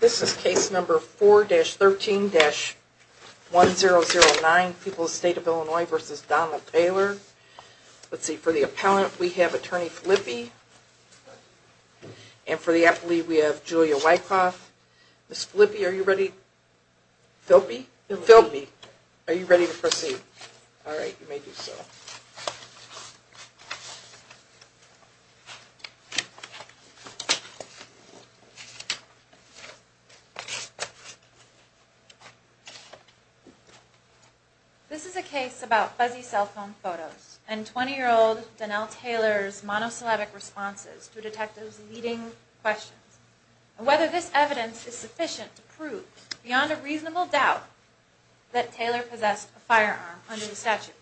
This is case number 4-13-1009, People's State of Illinois v. Donna Taylor. Let's see, for the appellant we have Attorney Filippi, and for the appellee we have Julia Wyckoff. Ms. Filippi, are you ready? Filpi? Filpi. Are you ready to proceed? Alright, you may do so. This is a case about fuzzy cell phone photos and 20-year-old Donnell Taylor's monosyllabic responses to detectives' leading questions, and whether this evidence is sufficient to prove beyond a reasonable doubt that Taylor possessed a firearm under the statute.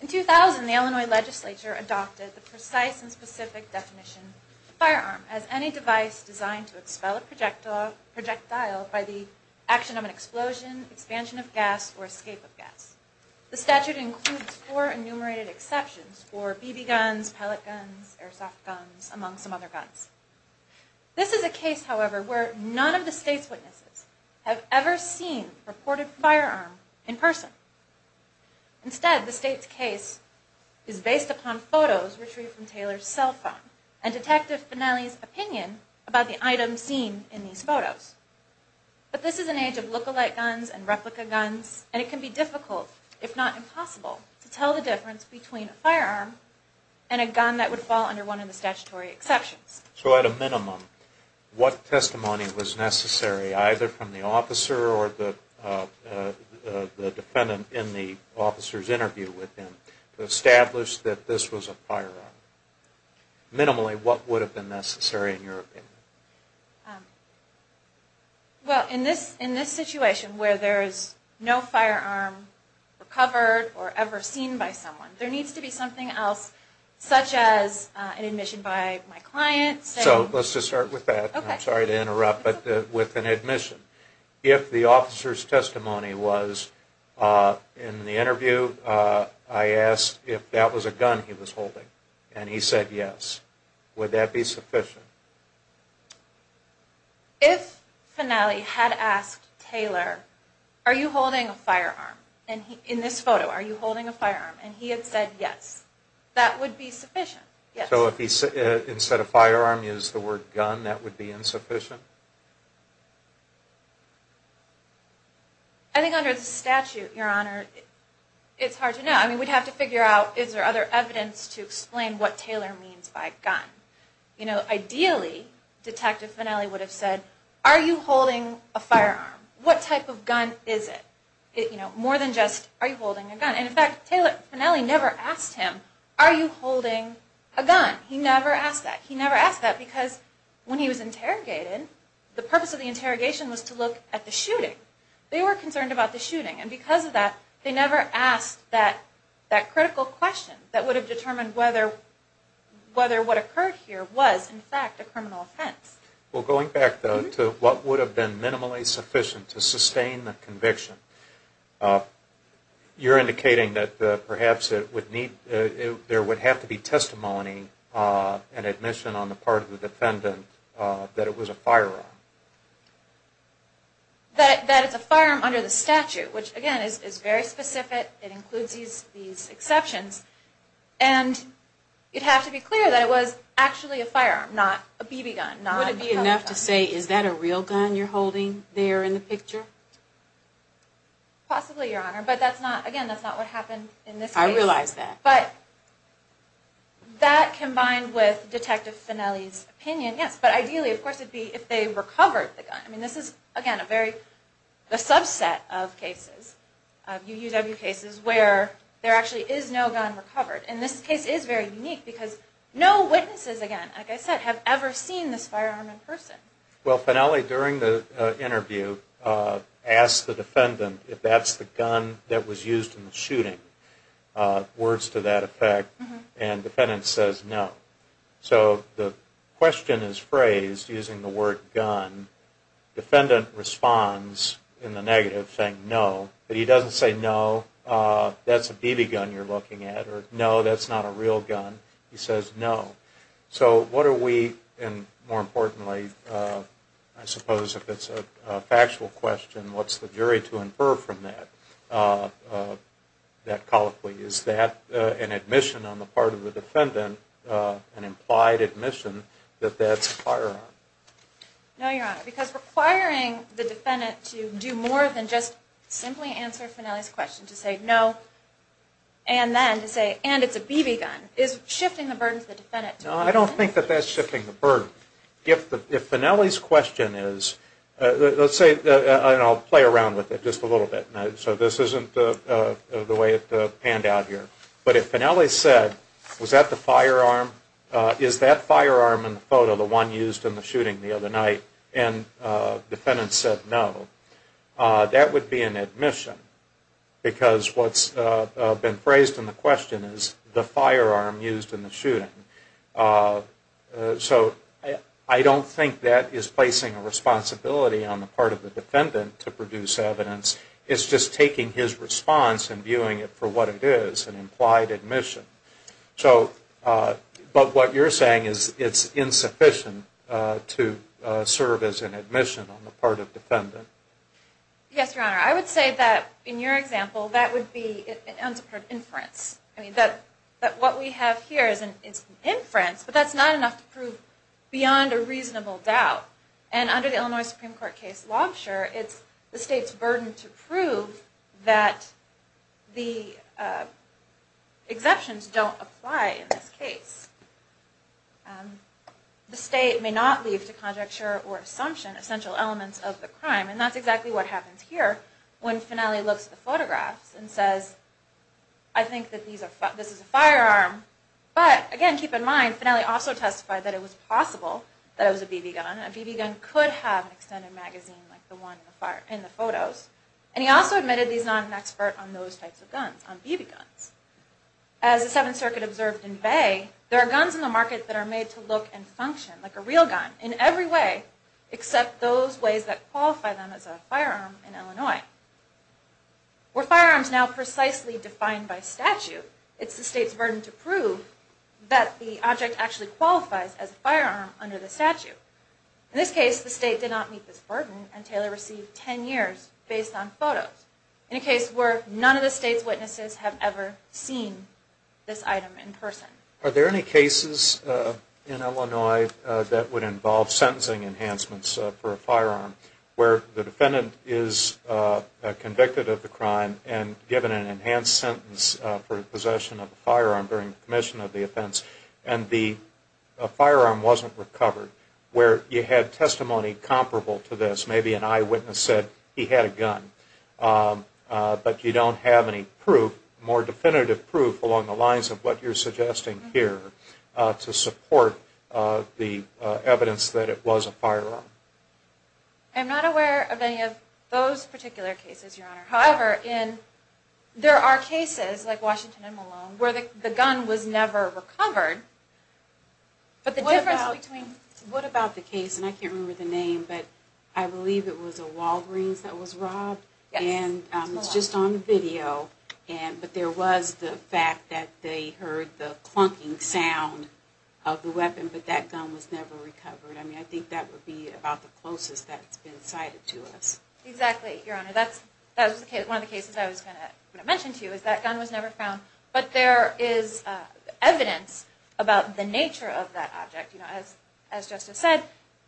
In 2000, the Illinois legislature adopted the precise and specific definition of a firearm as any device designed to expel a projectile by the action of an explosion, expansion of gas, or escape of gas. The statute includes four enumerated exceptions for BB guns, pellet guns, airsoft guns, among some other guns. This is a case, however, where none of the state's witnesses have ever seen a reported firearm in person. Instead, the state's case is based upon photos retrieved from Taylor's cell phone and Detective Finnelli's opinion about the items seen in these photos. But this is an age of look-alike guns and replica guns, and it can be difficult, if not impossible, to tell the difference between a firearm and a gun that would fall under one of the statutory exceptions. So at a minimum, what testimony was necessary, either from the officer or the defendant in the officer's interview with him, to establish that this was a firearm? Minimally, what would have been necessary, in your opinion? Well, in this situation where there is no firearm recovered or ever seen by someone, there needs to be something else, such as an admission by my client. So let's just start with that. I'm sorry to interrupt, but with an admission. If the officer's testimony was, in the interview, I asked if that was a gun he was holding, and he said yes, would that be sufficient? If Finnelli had asked Taylor, are you holding a firearm, in this photo, are you holding a firearm, and he had said yes, that would be sufficient. So if instead of firearm, he used the word gun, that would be insufficient? I think under the statute, Your Honor, it's hard to know. I mean, we'd have to figure out, is there other evidence to explain what Taylor means by gun? Ideally, Detective Finnelli would have said, are you holding a firearm? What type of gun is it? More than just, are you holding a gun? And in fact, Taylor Finnelli never asked him, are you holding a gun? He never asked that. He never asked that because when he was interrogated, the purpose of the interrogation was to look at the shooting. They were concerned about the shooting, and because of that, they never asked that critical question that would have determined whether what occurred here was, in fact, a criminal offense. Well, going back to what would have been minimally sufficient to sustain the conviction, you're indicating that perhaps there would have to be testimony and admission on the part of the defendant that it was a firearm. That it's a firearm under the statute, which again, is very specific. It includes these exceptions, and it'd have to be clear that it was actually a firearm, not a BB gun. Would it be enough to say, is that a real gun you're holding there in the picture? Possibly, Your Honor, but again, that's not what happened in this case. I realize that. But that combined with Detective Finnelli's opinion, yes. But ideally, of course, it'd be if they recovered the gun. I mean, this is, again, a subset of cases, UUW cases, where there actually is no gun recovered. And this case is very unique because no witnesses, again, like I said, have ever seen this firearm in person. Well, Finnelli, during the interview, asked the defendant if that's the gun that was used in the shooting. Words to that effect. And defendant says no. So the question is phrased using the word gun. Defendant responds in the negative, saying no. But he doesn't say no, that's a BB gun you're looking at. Or no, that's not a real gun. He says no. So what are we, and more importantly, I suppose if it's a factual question, what's the jury to infer from that colloquy? Is that an admission on the part of the defendant, an implied admission, that that's a firearm? No, Your Honor, because requiring the defendant to do more than just simply answer Finnelli's question to say no, and then to say, and it's a BB gun, is shifting the burden to the defendant. No, I don't think that that's shifting the burden. If Finnelli's question is, let's say, and I'll play around with it just a little bit. So this isn't the way it panned out here. But if Finnelli said, was that the firearm, is that firearm in the photo the one used in the shooting the other night, and defendant said no, that would be an admission. Because what's been phrased in the question is the firearm used in the shooting. So I don't think that is placing a responsibility on the part of the defendant to produce evidence. It's just taking his response and viewing it for what it is, an implied admission. But what you're saying is it's insufficient to serve as an admission on the part of defendant. Yes, Your Honor. I would say that in your example, that would be an inference. I mean, that what we have here is an inference, but that's not enough to prove beyond a reasonable doubt. And under the Illinois Supreme Court case Lobsher, it's the state's burden to prove that the exemptions don't apply in this case. The state may not leave to conjecture or assumption essential elements of the crime. And that's exactly what happens here when Finnelli looks at the photographs and says, I think that this is a firearm. But again, keep in mind, Finnelli also testified that it was possible that it was a BB gun. A BB gun could have an extended magazine like the one in the photos. And he also admitted he's not an expert on those types of guns, on BB guns. As the Seventh Circuit observed in Bay, there are guns in the market that are made to look and function like a real gun in every way, except those ways that qualify them as a firearm in Illinois. We're firearms now precisely defined by statute. It's the state's burden to prove that the object actually qualifies as a firearm under the statute. In this case, the state did not meet this burden, and Taylor received 10 years based on photos. In a case where none of the state's witnesses have ever seen this item in person. Are there any cases in Illinois that would involve sentencing enhancements for a firearm, where the defendant is convicted of the crime and given an enhanced sentence for possession of a firearm during the commission of the offense, and the firearm wasn't recovered, where you had testimony comparable to this. Maybe an eyewitness said he had a gun. But you don't have any proof, more definitive proof, along the lines of what you're suggesting here, to support the evidence that it was a firearm. I'm not aware of any of those particular cases, Your Honor. However, there are cases, like Washington and Malone, where the gun was never recovered. What about the case, and I can't remember the name, but I believe it was a Walgreens that was robbed, and it's just on the video, but there was the fact that they heard the clunking sound of the weapon, but that gun was never recovered. I mean, I think that would be about the closest that's been cited to us. Exactly, Your Honor. That was one of the cases I was going to mention to you, is that gun was never found. But there is evidence about the nature of that object. As Justice said,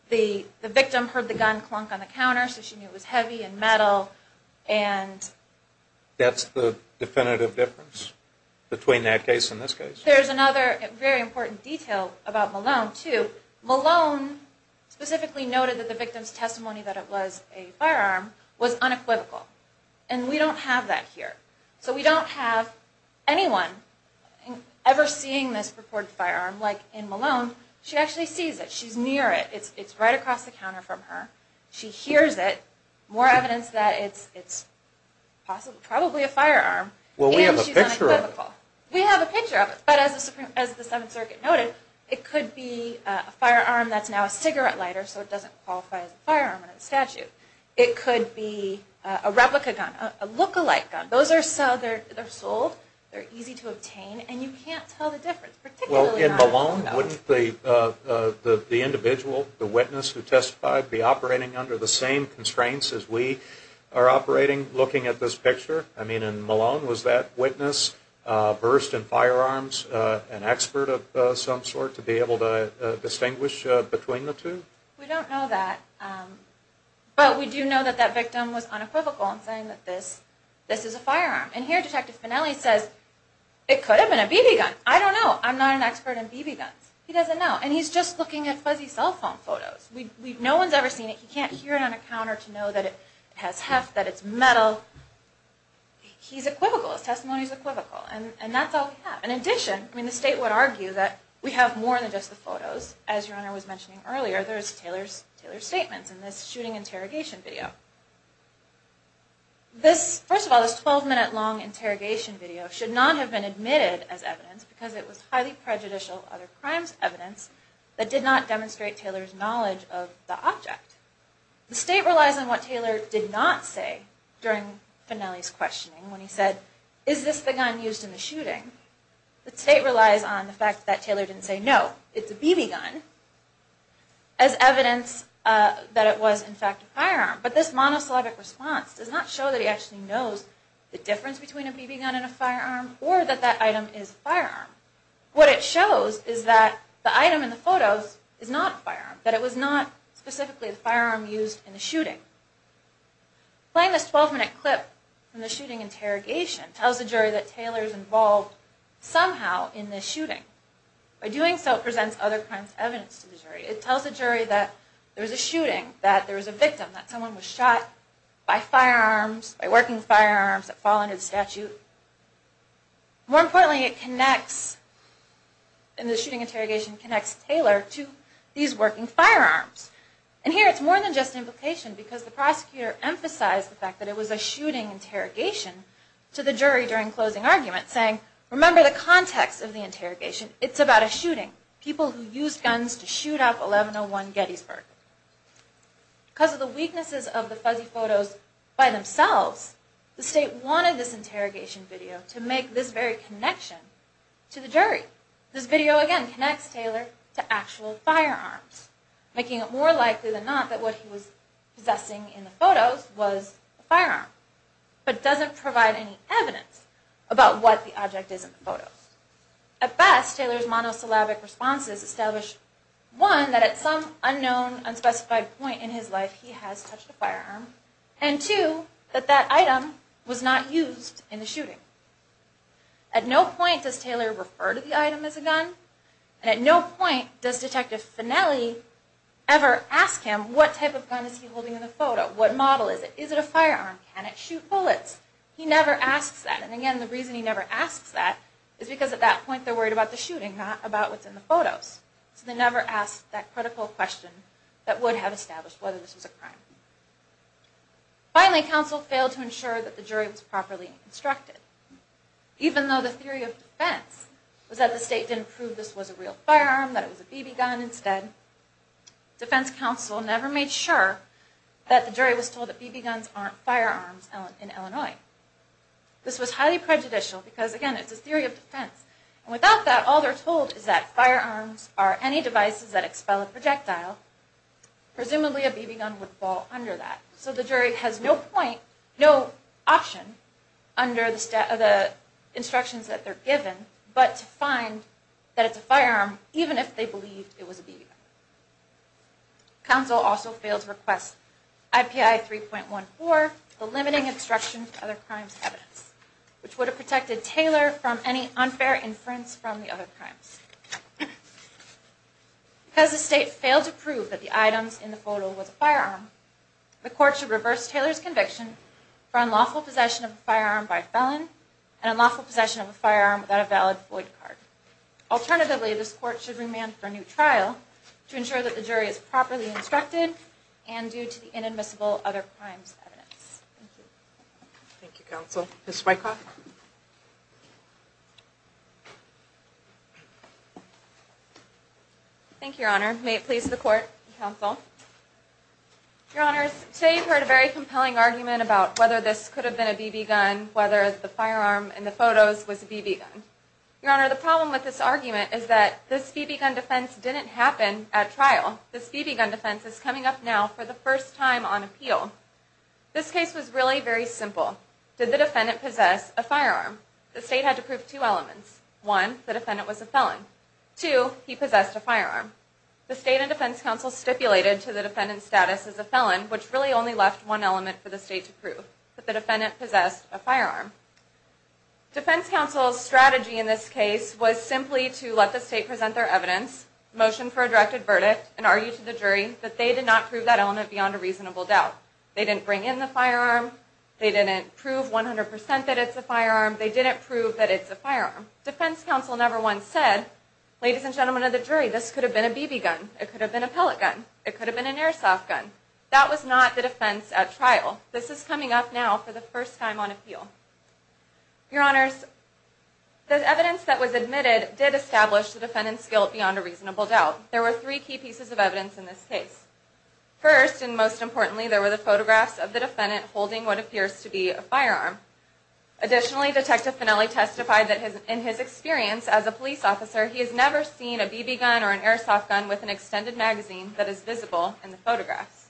the victim heard the gun clunk on the counter, so she knew it was heavy and metal. That's the definitive difference between that case and this case? There's another very important detail about Malone, too. Malone specifically noted that the victim's testimony that it was a firearm was unequivocal, and we don't have that here. So we don't have anyone ever seeing this purported firearm like in Malone. She actually sees it. She's near it. It's right across the counter from her. She hears it. More evidence that it's probably a firearm. Well, we have a picture of it. We have a picture of it, but as the Seventh Circuit noted, it could be a firearm that's now a cigarette lighter, so it doesn't qualify as a firearm under the statute. It could be a replica gun, a look-alike gun. Those are sold. They're easy to obtain, and you can't tell the difference, particularly not in Malone. Well, in Malone, wouldn't the individual, the witness who testified, be operating under the same constraints as we are operating looking at this picture? I mean, in Malone, was that witness versed in firearms, an expert of some sort, to be able to distinguish between the two? We don't know that, but we do know that that victim was unequivocal in saying that this is a firearm. And here Detective Finelli says, it could have been a BB gun. I don't know. I'm not an expert in BB guns. He doesn't know, and he's just looking at fuzzy cell phone photos. No one's ever seen it. He can't hear it on a counter to know that it has heft, that it's metal. He's equivocal. His testimony is equivocal, and that's all we have. In addition, I mean, the state would argue that we have more than just the photos. As your Honor was mentioning earlier, there's Taylor's statements in this shooting interrogation video. First of all, this 12-minute long interrogation video should not have been admitted as evidence because it was highly prejudicial other crimes evidence that did not demonstrate Taylor's knowledge of the object. The state relies on what Taylor did not say during Finelli's questioning when he said, is this the gun used in the shooting? The state relies on the fact that Taylor didn't say no, it's a BB gun, as evidence that it was, in fact, a firearm. But this monosyllabic response does not show that he actually knows the difference between a BB gun and a firearm, or that that item is a firearm. What it shows is that the item in the photos is not a firearm, that it was not specifically the firearm used in the shooting. Playing this 12-minute clip from the shooting interrogation tells the jury that Taylor is involved somehow in this shooting. By doing so, it presents other crimes evidence to the jury. It tells the jury that there was a shooting, that there was a victim, that someone was shot by firearms, by working firearms that fall under the statute. More importantly, it connects, in the shooting interrogation, connects Taylor to these working firearms. And here it's more than just implication because the prosecutor emphasized the fact that it was a shooting interrogation to the jury during closing argument, saying, remember the context of the interrogation, it's about a shooting, people who used guns to shoot up 1101 Gettysburg. Because of the weaknesses of the fuzzy photos by themselves, the state wanted this interrogation video to make this very connection to the jury. This video, again, connects Taylor to actual firearms, making it more likely than not that what he was possessing in the photos was a firearm, but doesn't provide any evidence about what the object is in the photos. At best, Taylor's monosyllabic responses establish, one, that at some unknown, unspecified point in his life he has touched a firearm, and two, that that item was not used in the shooting. At no point does Taylor refer to the item as a gun, and at no point does Detective Finelli ever ask him what type of gun is he holding in the photo, what model is it, is it a firearm, can it shoot bullets? He never asks that, and again, the reason he never asks that is because at that point they're worried about the shooting, not about what's in the photos. So they never ask that critical question that would have established whether this was a crime. Finally, counsel failed to ensure that the jury was properly instructed. Even though the theory of defense was that the state didn't prove this was a real firearm, that it was a BB gun instead, defense counsel never made sure that the jury was told that BB guns aren't firearms in Illinois. This was highly prejudicial because, again, it's a theory of defense. Without that, all they're told is that firearms are any devices that expel a projectile. Presumably a BB gun would fall under that. So the jury has no option under the instructions that they're given but to find that it's a firearm, even if they believed it was a BB gun. Counsel also failed to request IPI 3.14, the limiting instruction for other crimes evidence, which would have protected Taylor from any unfair inference from the other crimes. Because the state failed to prove that the items in the photo was a firearm, the court should reverse Taylor's conviction for unlawful possession of a firearm by a felon and unlawful possession of a firearm without a valid void card. Alternatively, this court should remand for a new trial to ensure that the jury is properly instructed and due to the inadmissible other crimes evidence. Thank you. Thank you, counsel. Ms. Wyckoff. Thank you, your honor. May it please the court and counsel. Your honors, today you've heard a very compelling argument about whether this could have been a BB gun, whether the firearm in the photos was a BB gun. Your honor, the problem with this argument is that this BB gun defense didn't happen at trial. This BB gun defense is coming up now for the first time on appeal. This case was really very simple. Did the defendant possess a firearm? The state had to prove two elements. Two, he possessed a firearm. The state and defense counsel stipulated to the defendant's status as a felon, which really only left one element for the state to prove, that the defendant possessed a firearm. Defense counsel's strategy in this case was simply to let the state present their evidence, motion for a directed verdict, and argue to the jury that they did not prove that element beyond a reasonable doubt. They didn't bring in the firearm. They didn't prove 100% that it's a firearm. They didn't prove that it's a firearm. Defense counsel never once said, ladies and gentlemen of the jury, this could have been a BB gun. It could have been a pellet gun. It could have been an airsoft gun. That was not the defense at trial. This is coming up now for the first time on appeal. Your honors, the evidence that was admitted did establish the defendant's guilt beyond a reasonable doubt. There were three key pieces of evidence in this case. First, and most importantly, there were the photographs of the defendant holding what appears to be a firearm. Additionally, Detective Finnelli testified that in his experience as a police officer, he has never seen a BB gun or an airsoft gun with an extended magazine that is visible in the photographs.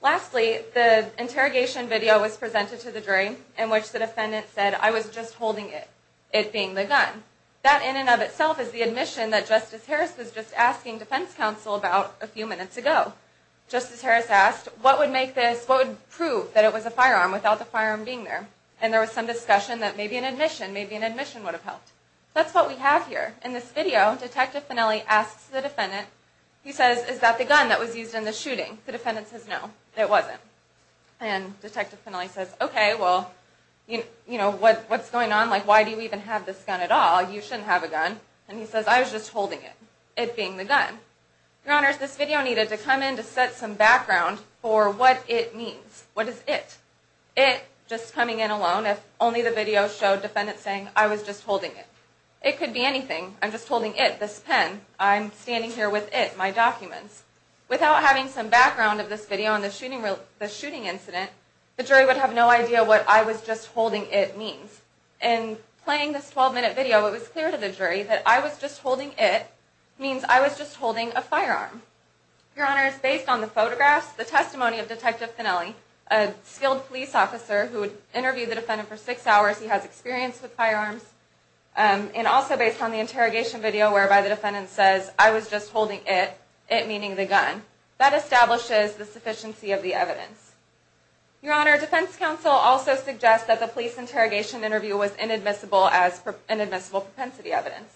Lastly, the interrogation video was presented to the jury, in which the defendant said, I was just holding it, it being the gun. That in and of itself is the admission that Justice Harris was just asking defense counsel about a few minutes ago. Justice Harris asked, what would make this, what would prove that it was a firearm without the firearm being there? And there was some discussion that maybe an admission, maybe an admission would have helped. That's what we have here. In this video, Detective Finnelli asks the defendant, he says, is that the gun that was used in the shooting? The defendant says, no, it wasn't. And Detective Finnelli says, okay, well, you know, what's going on? Like, why do you even have this gun at all? You shouldn't have a gun. And he says, I was just holding it, it being the gun. Your Honors, this video needed to come in to set some background for what it means. What is it? It, just coming in alone, if only the video showed defendants saying, I was just holding it. It could be anything. I'm just holding it, this pen. I'm standing here with it, my documents. Without having some background of this video and the shooting incident, the jury would have no idea what I was just holding it means. In playing this 12-minute video, it was clear to the jury that I was just holding it means I was just holding a firearm. Your Honors, based on the photographs, the testimony of Detective Finnelli, a skilled police officer who interviewed the defendant for six hours, he has experience with firearms, and also based on the interrogation video whereby the defendant says, I was just holding it, it meaning the gun. That establishes the sufficiency of the evidence. Your Honor, defense counsel also suggests that the police interrogation interview was inadmissible as inadmissible propensity evidence.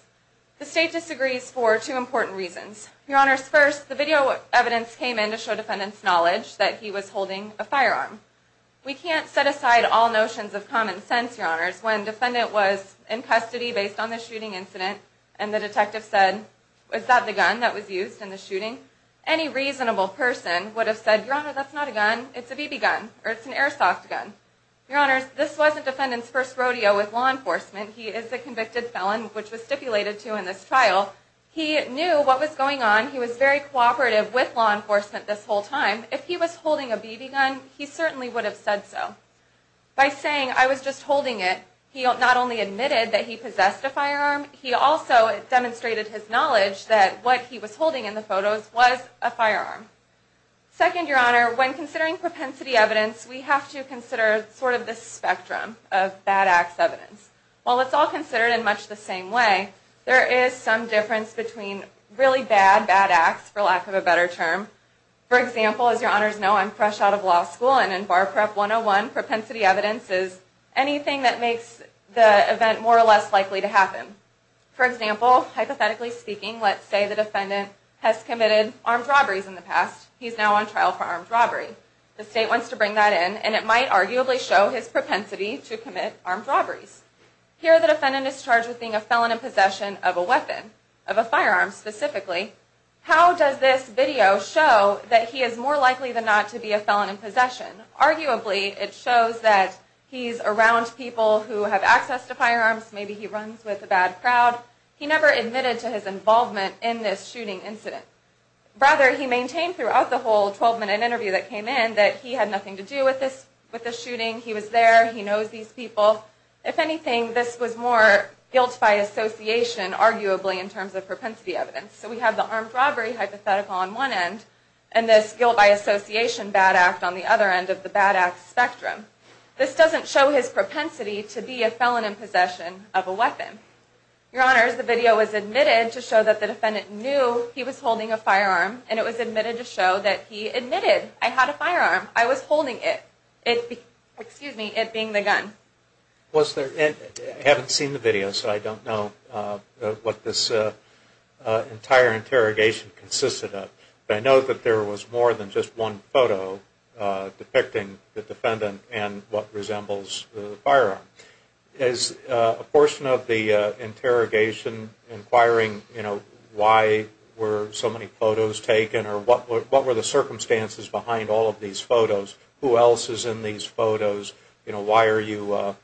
The state disagrees for two important reasons. Your Honors, first, the video evidence came in to show defendants' knowledge that he was holding a firearm. We can't set aside all notions of common sense, Your Honors, when defendant was in custody based on the shooting incident and the detective said, is that the gun that was used in the shooting? Any reasonable person would have said, Your Honor, that's not a gun. It's a BB gun, or it's an airsoft gun. Your Honors, this wasn't defendants' first rodeo with law enforcement. He is a convicted felon, which was stipulated to in this trial. He knew what was going on. He was very cooperative with law enforcement this whole time. If he was holding a BB gun, he certainly would have said so. By saying, I was just holding it, he not only admitted that he possessed a firearm, he also demonstrated his knowledge that what he was holding in the photos was a firearm. Second, Your Honor, when considering propensity evidence, we have to consider sort of the spectrum of bad acts evidence. While it's all considered in much the same way, there is some difference between really bad bad acts, for lack of a better term. For example, as Your Honors know, I'm fresh out of law school, and in Bar Prep 101, propensity evidence is anything that makes the event more or less likely to happen. For example, hypothetically speaking, let's say the defendant has committed armed robberies in the past. He's now on trial for armed robbery. The state wants to bring that in, and it might arguably show his propensity to commit armed robberies. Here the defendant is charged with being a felon in possession of a weapon, of a firearm specifically. How does this video show that he is more likely than not to be a felon in possession? Arguably, it shows that he's around people who have access to firearms. Maybe he runs with a bad crowd. He never admitted to his involvement in this shooting incident. Rather, he maintained throughout the whole 12-minute interview that came in that he had nothing to do with this shooting. He was there. He knows these people. If anything, this was more guilt by association, arguably, in terms of propensity evidence. So we have the armed robbery hypothetical on one end, and this guilt by association bad act on the other end of the bad act spectrum. This doesn't show his propensity to be a felon in possession of a weapon. Your Honors, the video was admitted to show that the defendant knew he was holding a firearm, and it was admitted to show that he admitted, I had a firearm. I was holding it. It being the gun. I haven't seen the video, so I don't know what this entire interrogation consisted of. But I know that there was more than just one photo depicting the defendant and what resembles the firearm. Is a portion of the interrogation inquiring why were so many photos taken, or what were the circumstances behind all of these photos? Who else is in these photos? Why are you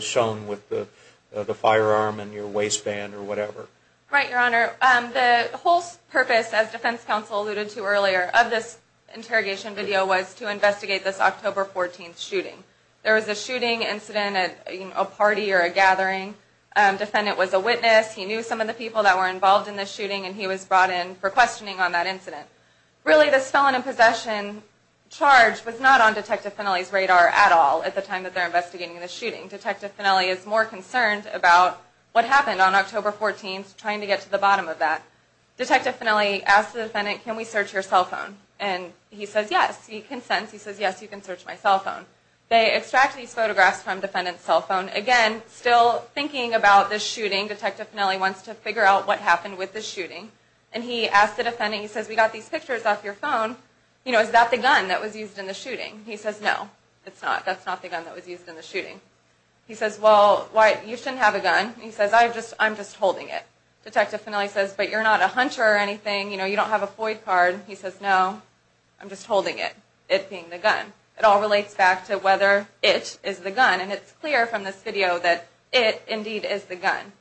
shown with the firearm in your waistband or whatever? Right, Your Honor. The whole purpose, as Defense Counsel alluded to earlier, of this interrogation video was to investigate this October 14th shooting. There was a shooting incident at a party or a gathering. Defendant was a witness. He knew some of the people that were involved in this shooting, and he was brought in for questioning on that incident. Really, this felon in possession charge was not on Detective Fennelly's radar at all at the time that they're investigating this shooting. Detective Fennelly is more concerned about what happened on October 14th, trying to get to the bottom of that. Detective Fennelly asked the defendant, can we search your cell phone? And he says yes. He consents. He says, yes, you can search my cell phone. They extract these photographs from defendant's cell phone. Again, still thinking about this shooting, Detective Fennelly wants to figure out what happened with this shooting. And he asked the defendant, he says, we got these pictures off your phone. Is that the gun that was used in the shooting? He says, no, it's not. That's not the gun that was used in the shooting. He says, well, you shouldn't have a gun. He says, I'm just holding it. Detective Fennelly says, but you're not a hunter or anything. You don't have a FOID card. He says, no, I'm just holding it, it being the gun. It all relates back to whether it is the gun. And it's clear from this video that it indeed is the gun.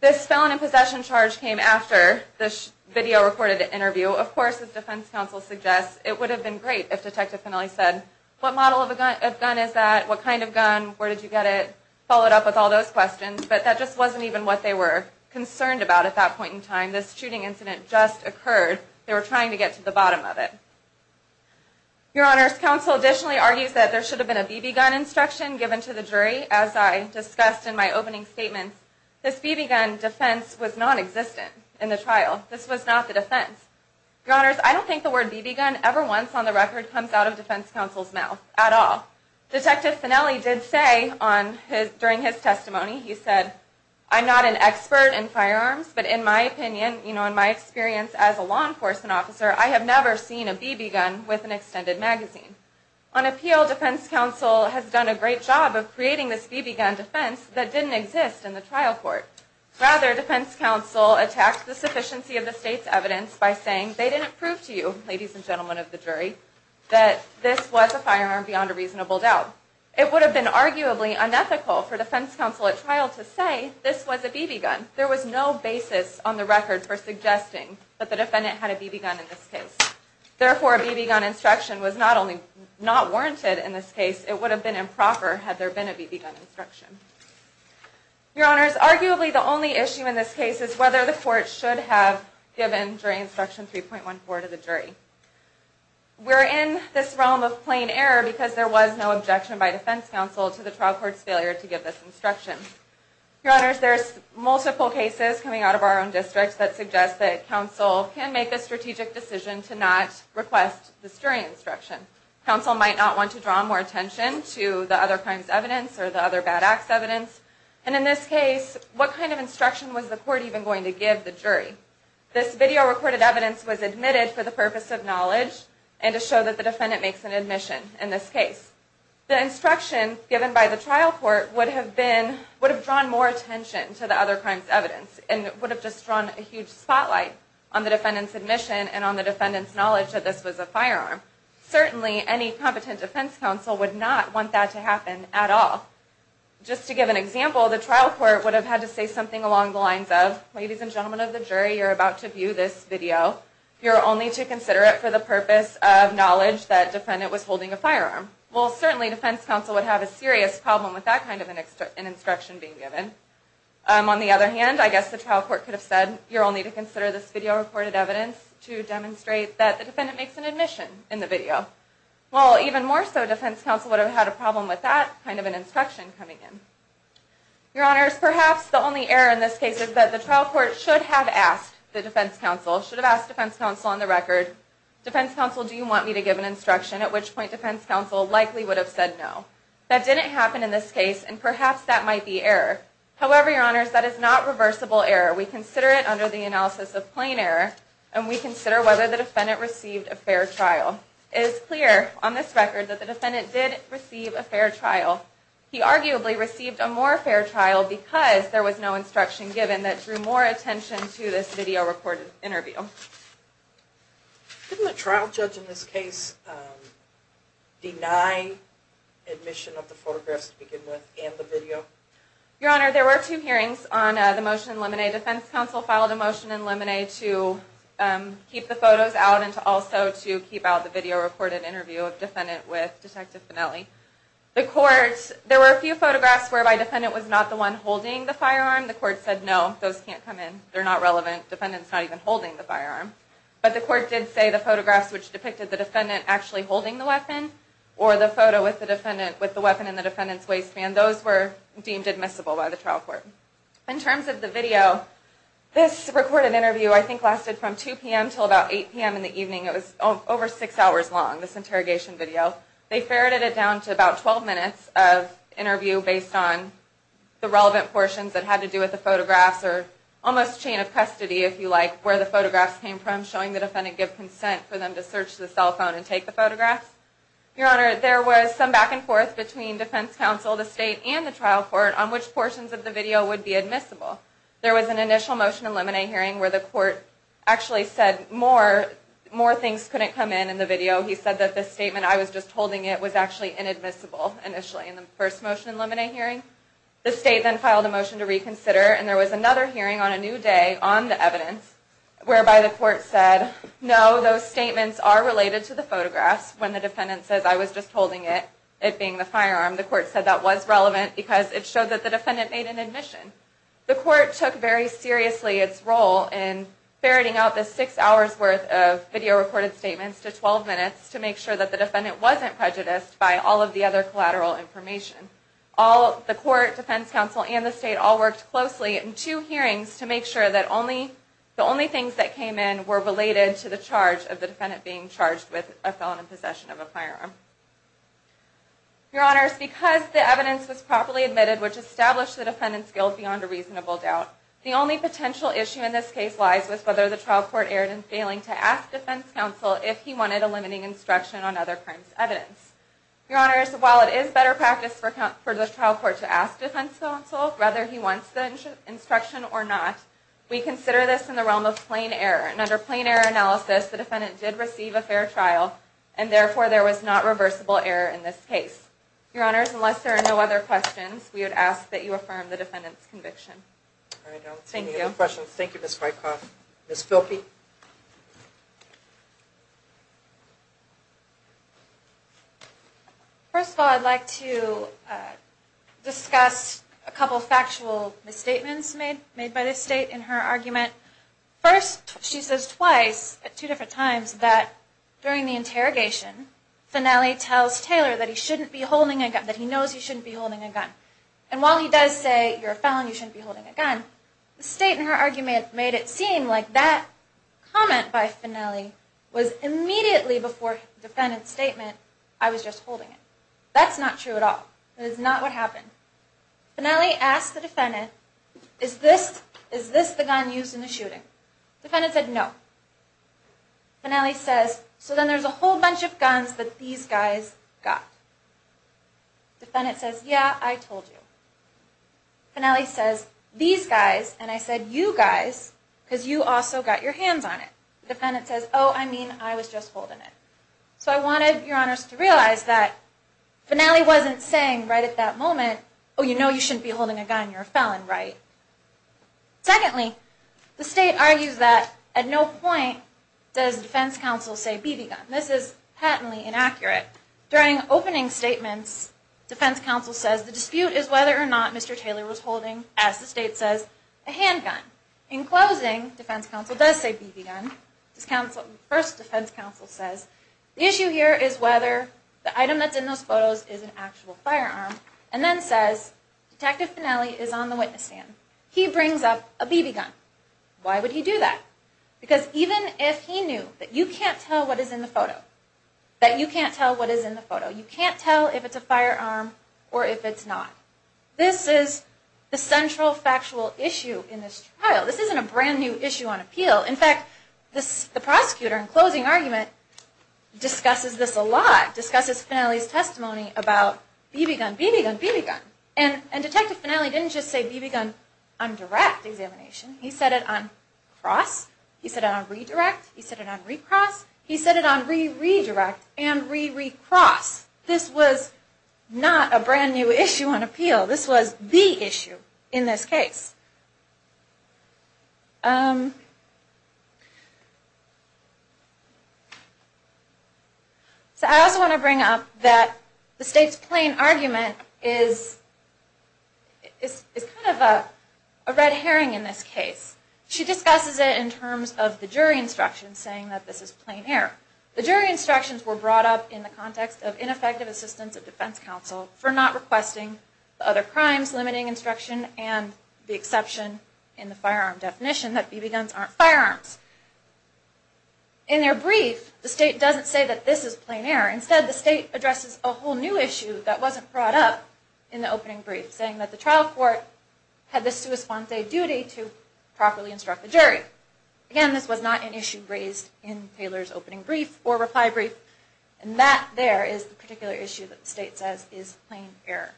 This felon in possession charge came after this video recorded interview. Of course, as defense counsel suggests, it would have been great if Detective Fennelly said, what model of gun is that? What kind of gun? Where did you get it? Followed up with all those questions. But that just wasn't even what they were concerned about at that point in time. This shooting incident just occurred. They were trying to get to the bottom of it. Your Honor, counsel additionally argues that there should have been a BB gun instruction given to the jury, as I discussed in my opening statement. This BB gun defense was nonexistent in the trial. This was not the defense. Your Honors, I don't think the word BB gun ever once on the record comes out of defense counsel's mouth at all. Detective Fennelly did say during his testimony, he said, I'm not an expert in firearms, but in my opinion, in my experience as a law enforcement officer, I have never seen a BB gun with an extended magazine. On appeal, defense counsel has done a great job of creating this BB gun defense that didn't exist in the trial court. Rather, defense counsel attacked the sufficiency of the state's evidence by saying they didn't prove to you, ladies and gentlemen of the jury, that this was a firearm beyond a reasonable doubt. It would have been arguably unethical for defense counsel at trial to say this was a BB gun. There was no basis on the record for suggesting that the defendant had a BB gun in this case. Therefore, a BB gun instruction was not warranted in this case. It would have been improper had there been a BB gun instruction. Your Honors, arguably the only issue in this case is whether the court should have given jury instruction 3.14 to the jury. We're in this realm of plain error because there was no objection by defense counsel to the trial court's failure to give this instruction. Your Honors, there's multiple cases coming out of our own districts that suggest that counsel can make a strategic decision to not request the jury instruction. Counsel might not want to draw more attention to the other crime's evidence or the other bad act's evidence. And in this case, what kind of instruction was the court even going to give the jury? This video recorded evidence was admitted for the purpose of knowledge and to show that the defendant makes an admission in this case. The instruction given by the trial court would have drawn more attention to the other crime's evidence and would have just drawn a huge spotlight on the defendant's admission and on the defendant's knowledge that this was a firearm. Certainly, any competent defense counsel would not want that to happen at all. Just to give an example, the trial court would have had to say something along the lines of, ladies and gentlemen of the jury, you're about to view this video. You're only to consider it for the purpose of knowledge that the defendant was holding a firearm. Well, certainly, defense counsel would have a serious problem with that kind of an instruction being given. On the other hand, I guess the trial court could have said, you're only to consider this video recorded evidence to demonstrate that the defendant makes an admission in the video. Well, even more so, defense counsel would have had a problem with that kind of an instruction coming in. Your Honors, perhaps the only error in this case is that the trial court should have asked the defense counsel, should have asked defense counsel on the record, defense counsel, do you want me to give an instruction, at which point defense counsel likely would have said no. That didn't happen in this case, and perhaps that might be error. However, Your Honors, that is not reversible error. We consider it under the analysis of plain error, and we consider whether the defendant received a fair trial. It is clear on this record that the defendant did receive a fair trial. He arguably received a more fair trial because there was no instruction given that drew more attention to this video recorded interview. Didn't the trial judge in this case deny admission of the photographs to begin with, and the video? Your Honor, there were two hearings on the motion in limine. Defense counsel filed a motion in limine to keep the photos out, and also to keep out the video recorded interview of the defendant with Detective Finelli. There were a few photographs whereby the defendant was not the one holding the firearm. The court said no, those can't come in. They're not relevant. Defendant's not even holding the firearm. But the court did say the photographs which depicted the defendant actually holding the weapon, or the photo with the weapon in the defendant's waistband, those were deemed admissible by the trial court. In terms of the video, this recorded interview, I think, lasted from 2 p.m. until about 8 p.m. in the evening. It was over six hours long, this interrogation video. They ferreted it down to about 12 minutes of interview based on the relevant portions that had to do with the photographs, or almost chain of custody, if you like, where the photographs came from, showing the defendant give consent for them to search the cell phone and take the photographs. Your Honor, there was some back and forth between defense counsel, the state, and the trial court on which portions of the video would be admissible. There was an initial motion in limine hearing where the court actually said more things couldn't come in in the video. He said that the statement, I was just holding it, was actually inadmissible initially. That was in the first motion in limine hearing. The state then filed a motion to reconsider, and there was another hearing on a new day on the evidence whereby the court said, no, those statements are related to the photographs. When the defendant says, I was just holding it, it being the firearm, the court said that was relevant because it showed that the defendant made an admission. The court took very seriously its role in ferreting out this six hours worth of video recorded statements to 12 minutes to make sure that the defendant wasn't prejudiced by all of the other collateral information. The court, defense counsel, and the state all worked closely in two hearings to make sure that the only things that came in were related to the charge of the defendant being charged with a felon in possession of a firearm. Your Honors, because the evidence was properly admitted, which established the defendant's guilt beyond a reasonable doubt, the only potential issue in this case lies with whether the trial court erred in failing to ask defense counsel if he wanted a limiting instruction on other crimes evidence. Your Honors, while it is better practice for the trial court to ask defense counsel whether he wants the instruction or not, we consider this in the realm of plain error, and under plain error analysis, the defendant did receive a fair trial, and therefore there was not reversible error in this case. Your Honors, unless there are no other questions, we would ask that you affirm the defendant's conviction. Thank you. If there are no other questions, thank you, Ms. Whitecroft. Ms. Philpy? First of all, I'd like to discuss a couple of factual misstatements made by the state in her argument. First, she says twice at two different times that during the interrogation, Finnelli tells Taylor that he knows he shouldn't be holding a gun. And while he does say, you're a felon, you shouldn't be holding a gun, the state in her argument made it seem like that comment by Finnelli was immediately before the defendant's statement, I was just holding it. That's not true at all. That is not what happened. Finnelli asked the defendant, is this the gun used in the shooting? The defendant said no. Finnelli says, so then there's a whole bunch of guns that these guys got. The defendant says, yeah, I told you. Finnelli says, these guys, and I said you guys, because you also got your hands on it. The defendant says, oh, I mean, I was just holding it. So I wanted your honors to realize that Finnelli wasn't saying right at that moment, oh, you know you shouldn't be holding a gun, you're a felon, right? Secondly, the state argues that at no point does defense counsel say BB gun. This is patently inaccurate. During opening statements, defense counsel says, the dispute is whether or not Mr. Taylor was holding, as the state says, a handgun. In closing, defense counsel does say BB gun. First, defense counsel says, the issue here is whether the item that's in those photos is an actual firearm, and then says, Detective Finnelli is on the witness stand. He brings up a BB gun. Why would he do that? That you can't tell what is in the photo. You can't tell if it's a firearm or if it's not. This is the central factual issue in this trial. This isn't a brand-new issue on appeal. In fact, the prosecutor in closing argument discusses this a lot, discusses Finnelli's testimony about BB gun, BB gun, BB gun. And Detective Finnelli didn't just say BB gun on direct examination. He said it on cross. He said it on redirect. He said it on recross. He said it on re-redirect and re-recross. This was not a brand-new issue on appeal. This was the issue in this case. So I also want to bring up that the state's plain argument is kind of a red herring in this case. She discusses it in terms of the jury instructions saying that this is plain error. The jury instructions were brought up in the context of ineffective assistance of defense counsel for not requesting other crimes, limiting instruction, and the exception in the firearm definition that BB guns aren't firearms. In their brief, the state doesn't say that this is plain error. Instead, the state addresses a whole new issue that wasn't brought up in the opening brief, saying that the trial court had the sua sponte duty to properly instruct the jury. Again, this was not an issue raised in Taylor's opening brief or reply brief. And that there is the particular issue that the state says is plain error.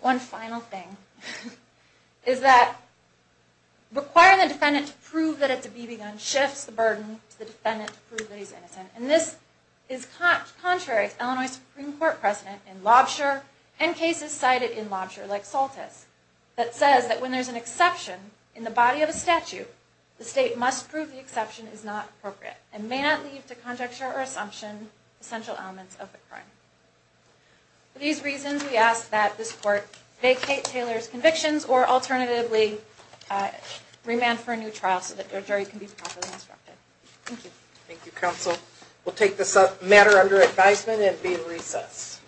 One final thing is that requiring the defendant to prove that it's a BB gun shifts the burden to the defendant to prove that he's innocent. And this is contrary to Illinois Supreme Court precedent in Lobsher and cases cited in Lobsher, like Soltis, that says that when there's an exception in the body of a statute, the state must prove the exception is not appropriate and may not leave to conjecture or assumption essential elements of the crime. For these reasons, we ask that this court vacate Taylor's convictions or alternatively remand for a new trial so that their jury can be properly instructed. Thank you. Thank you, counsel. We'll take this matter under advisement and be in recess.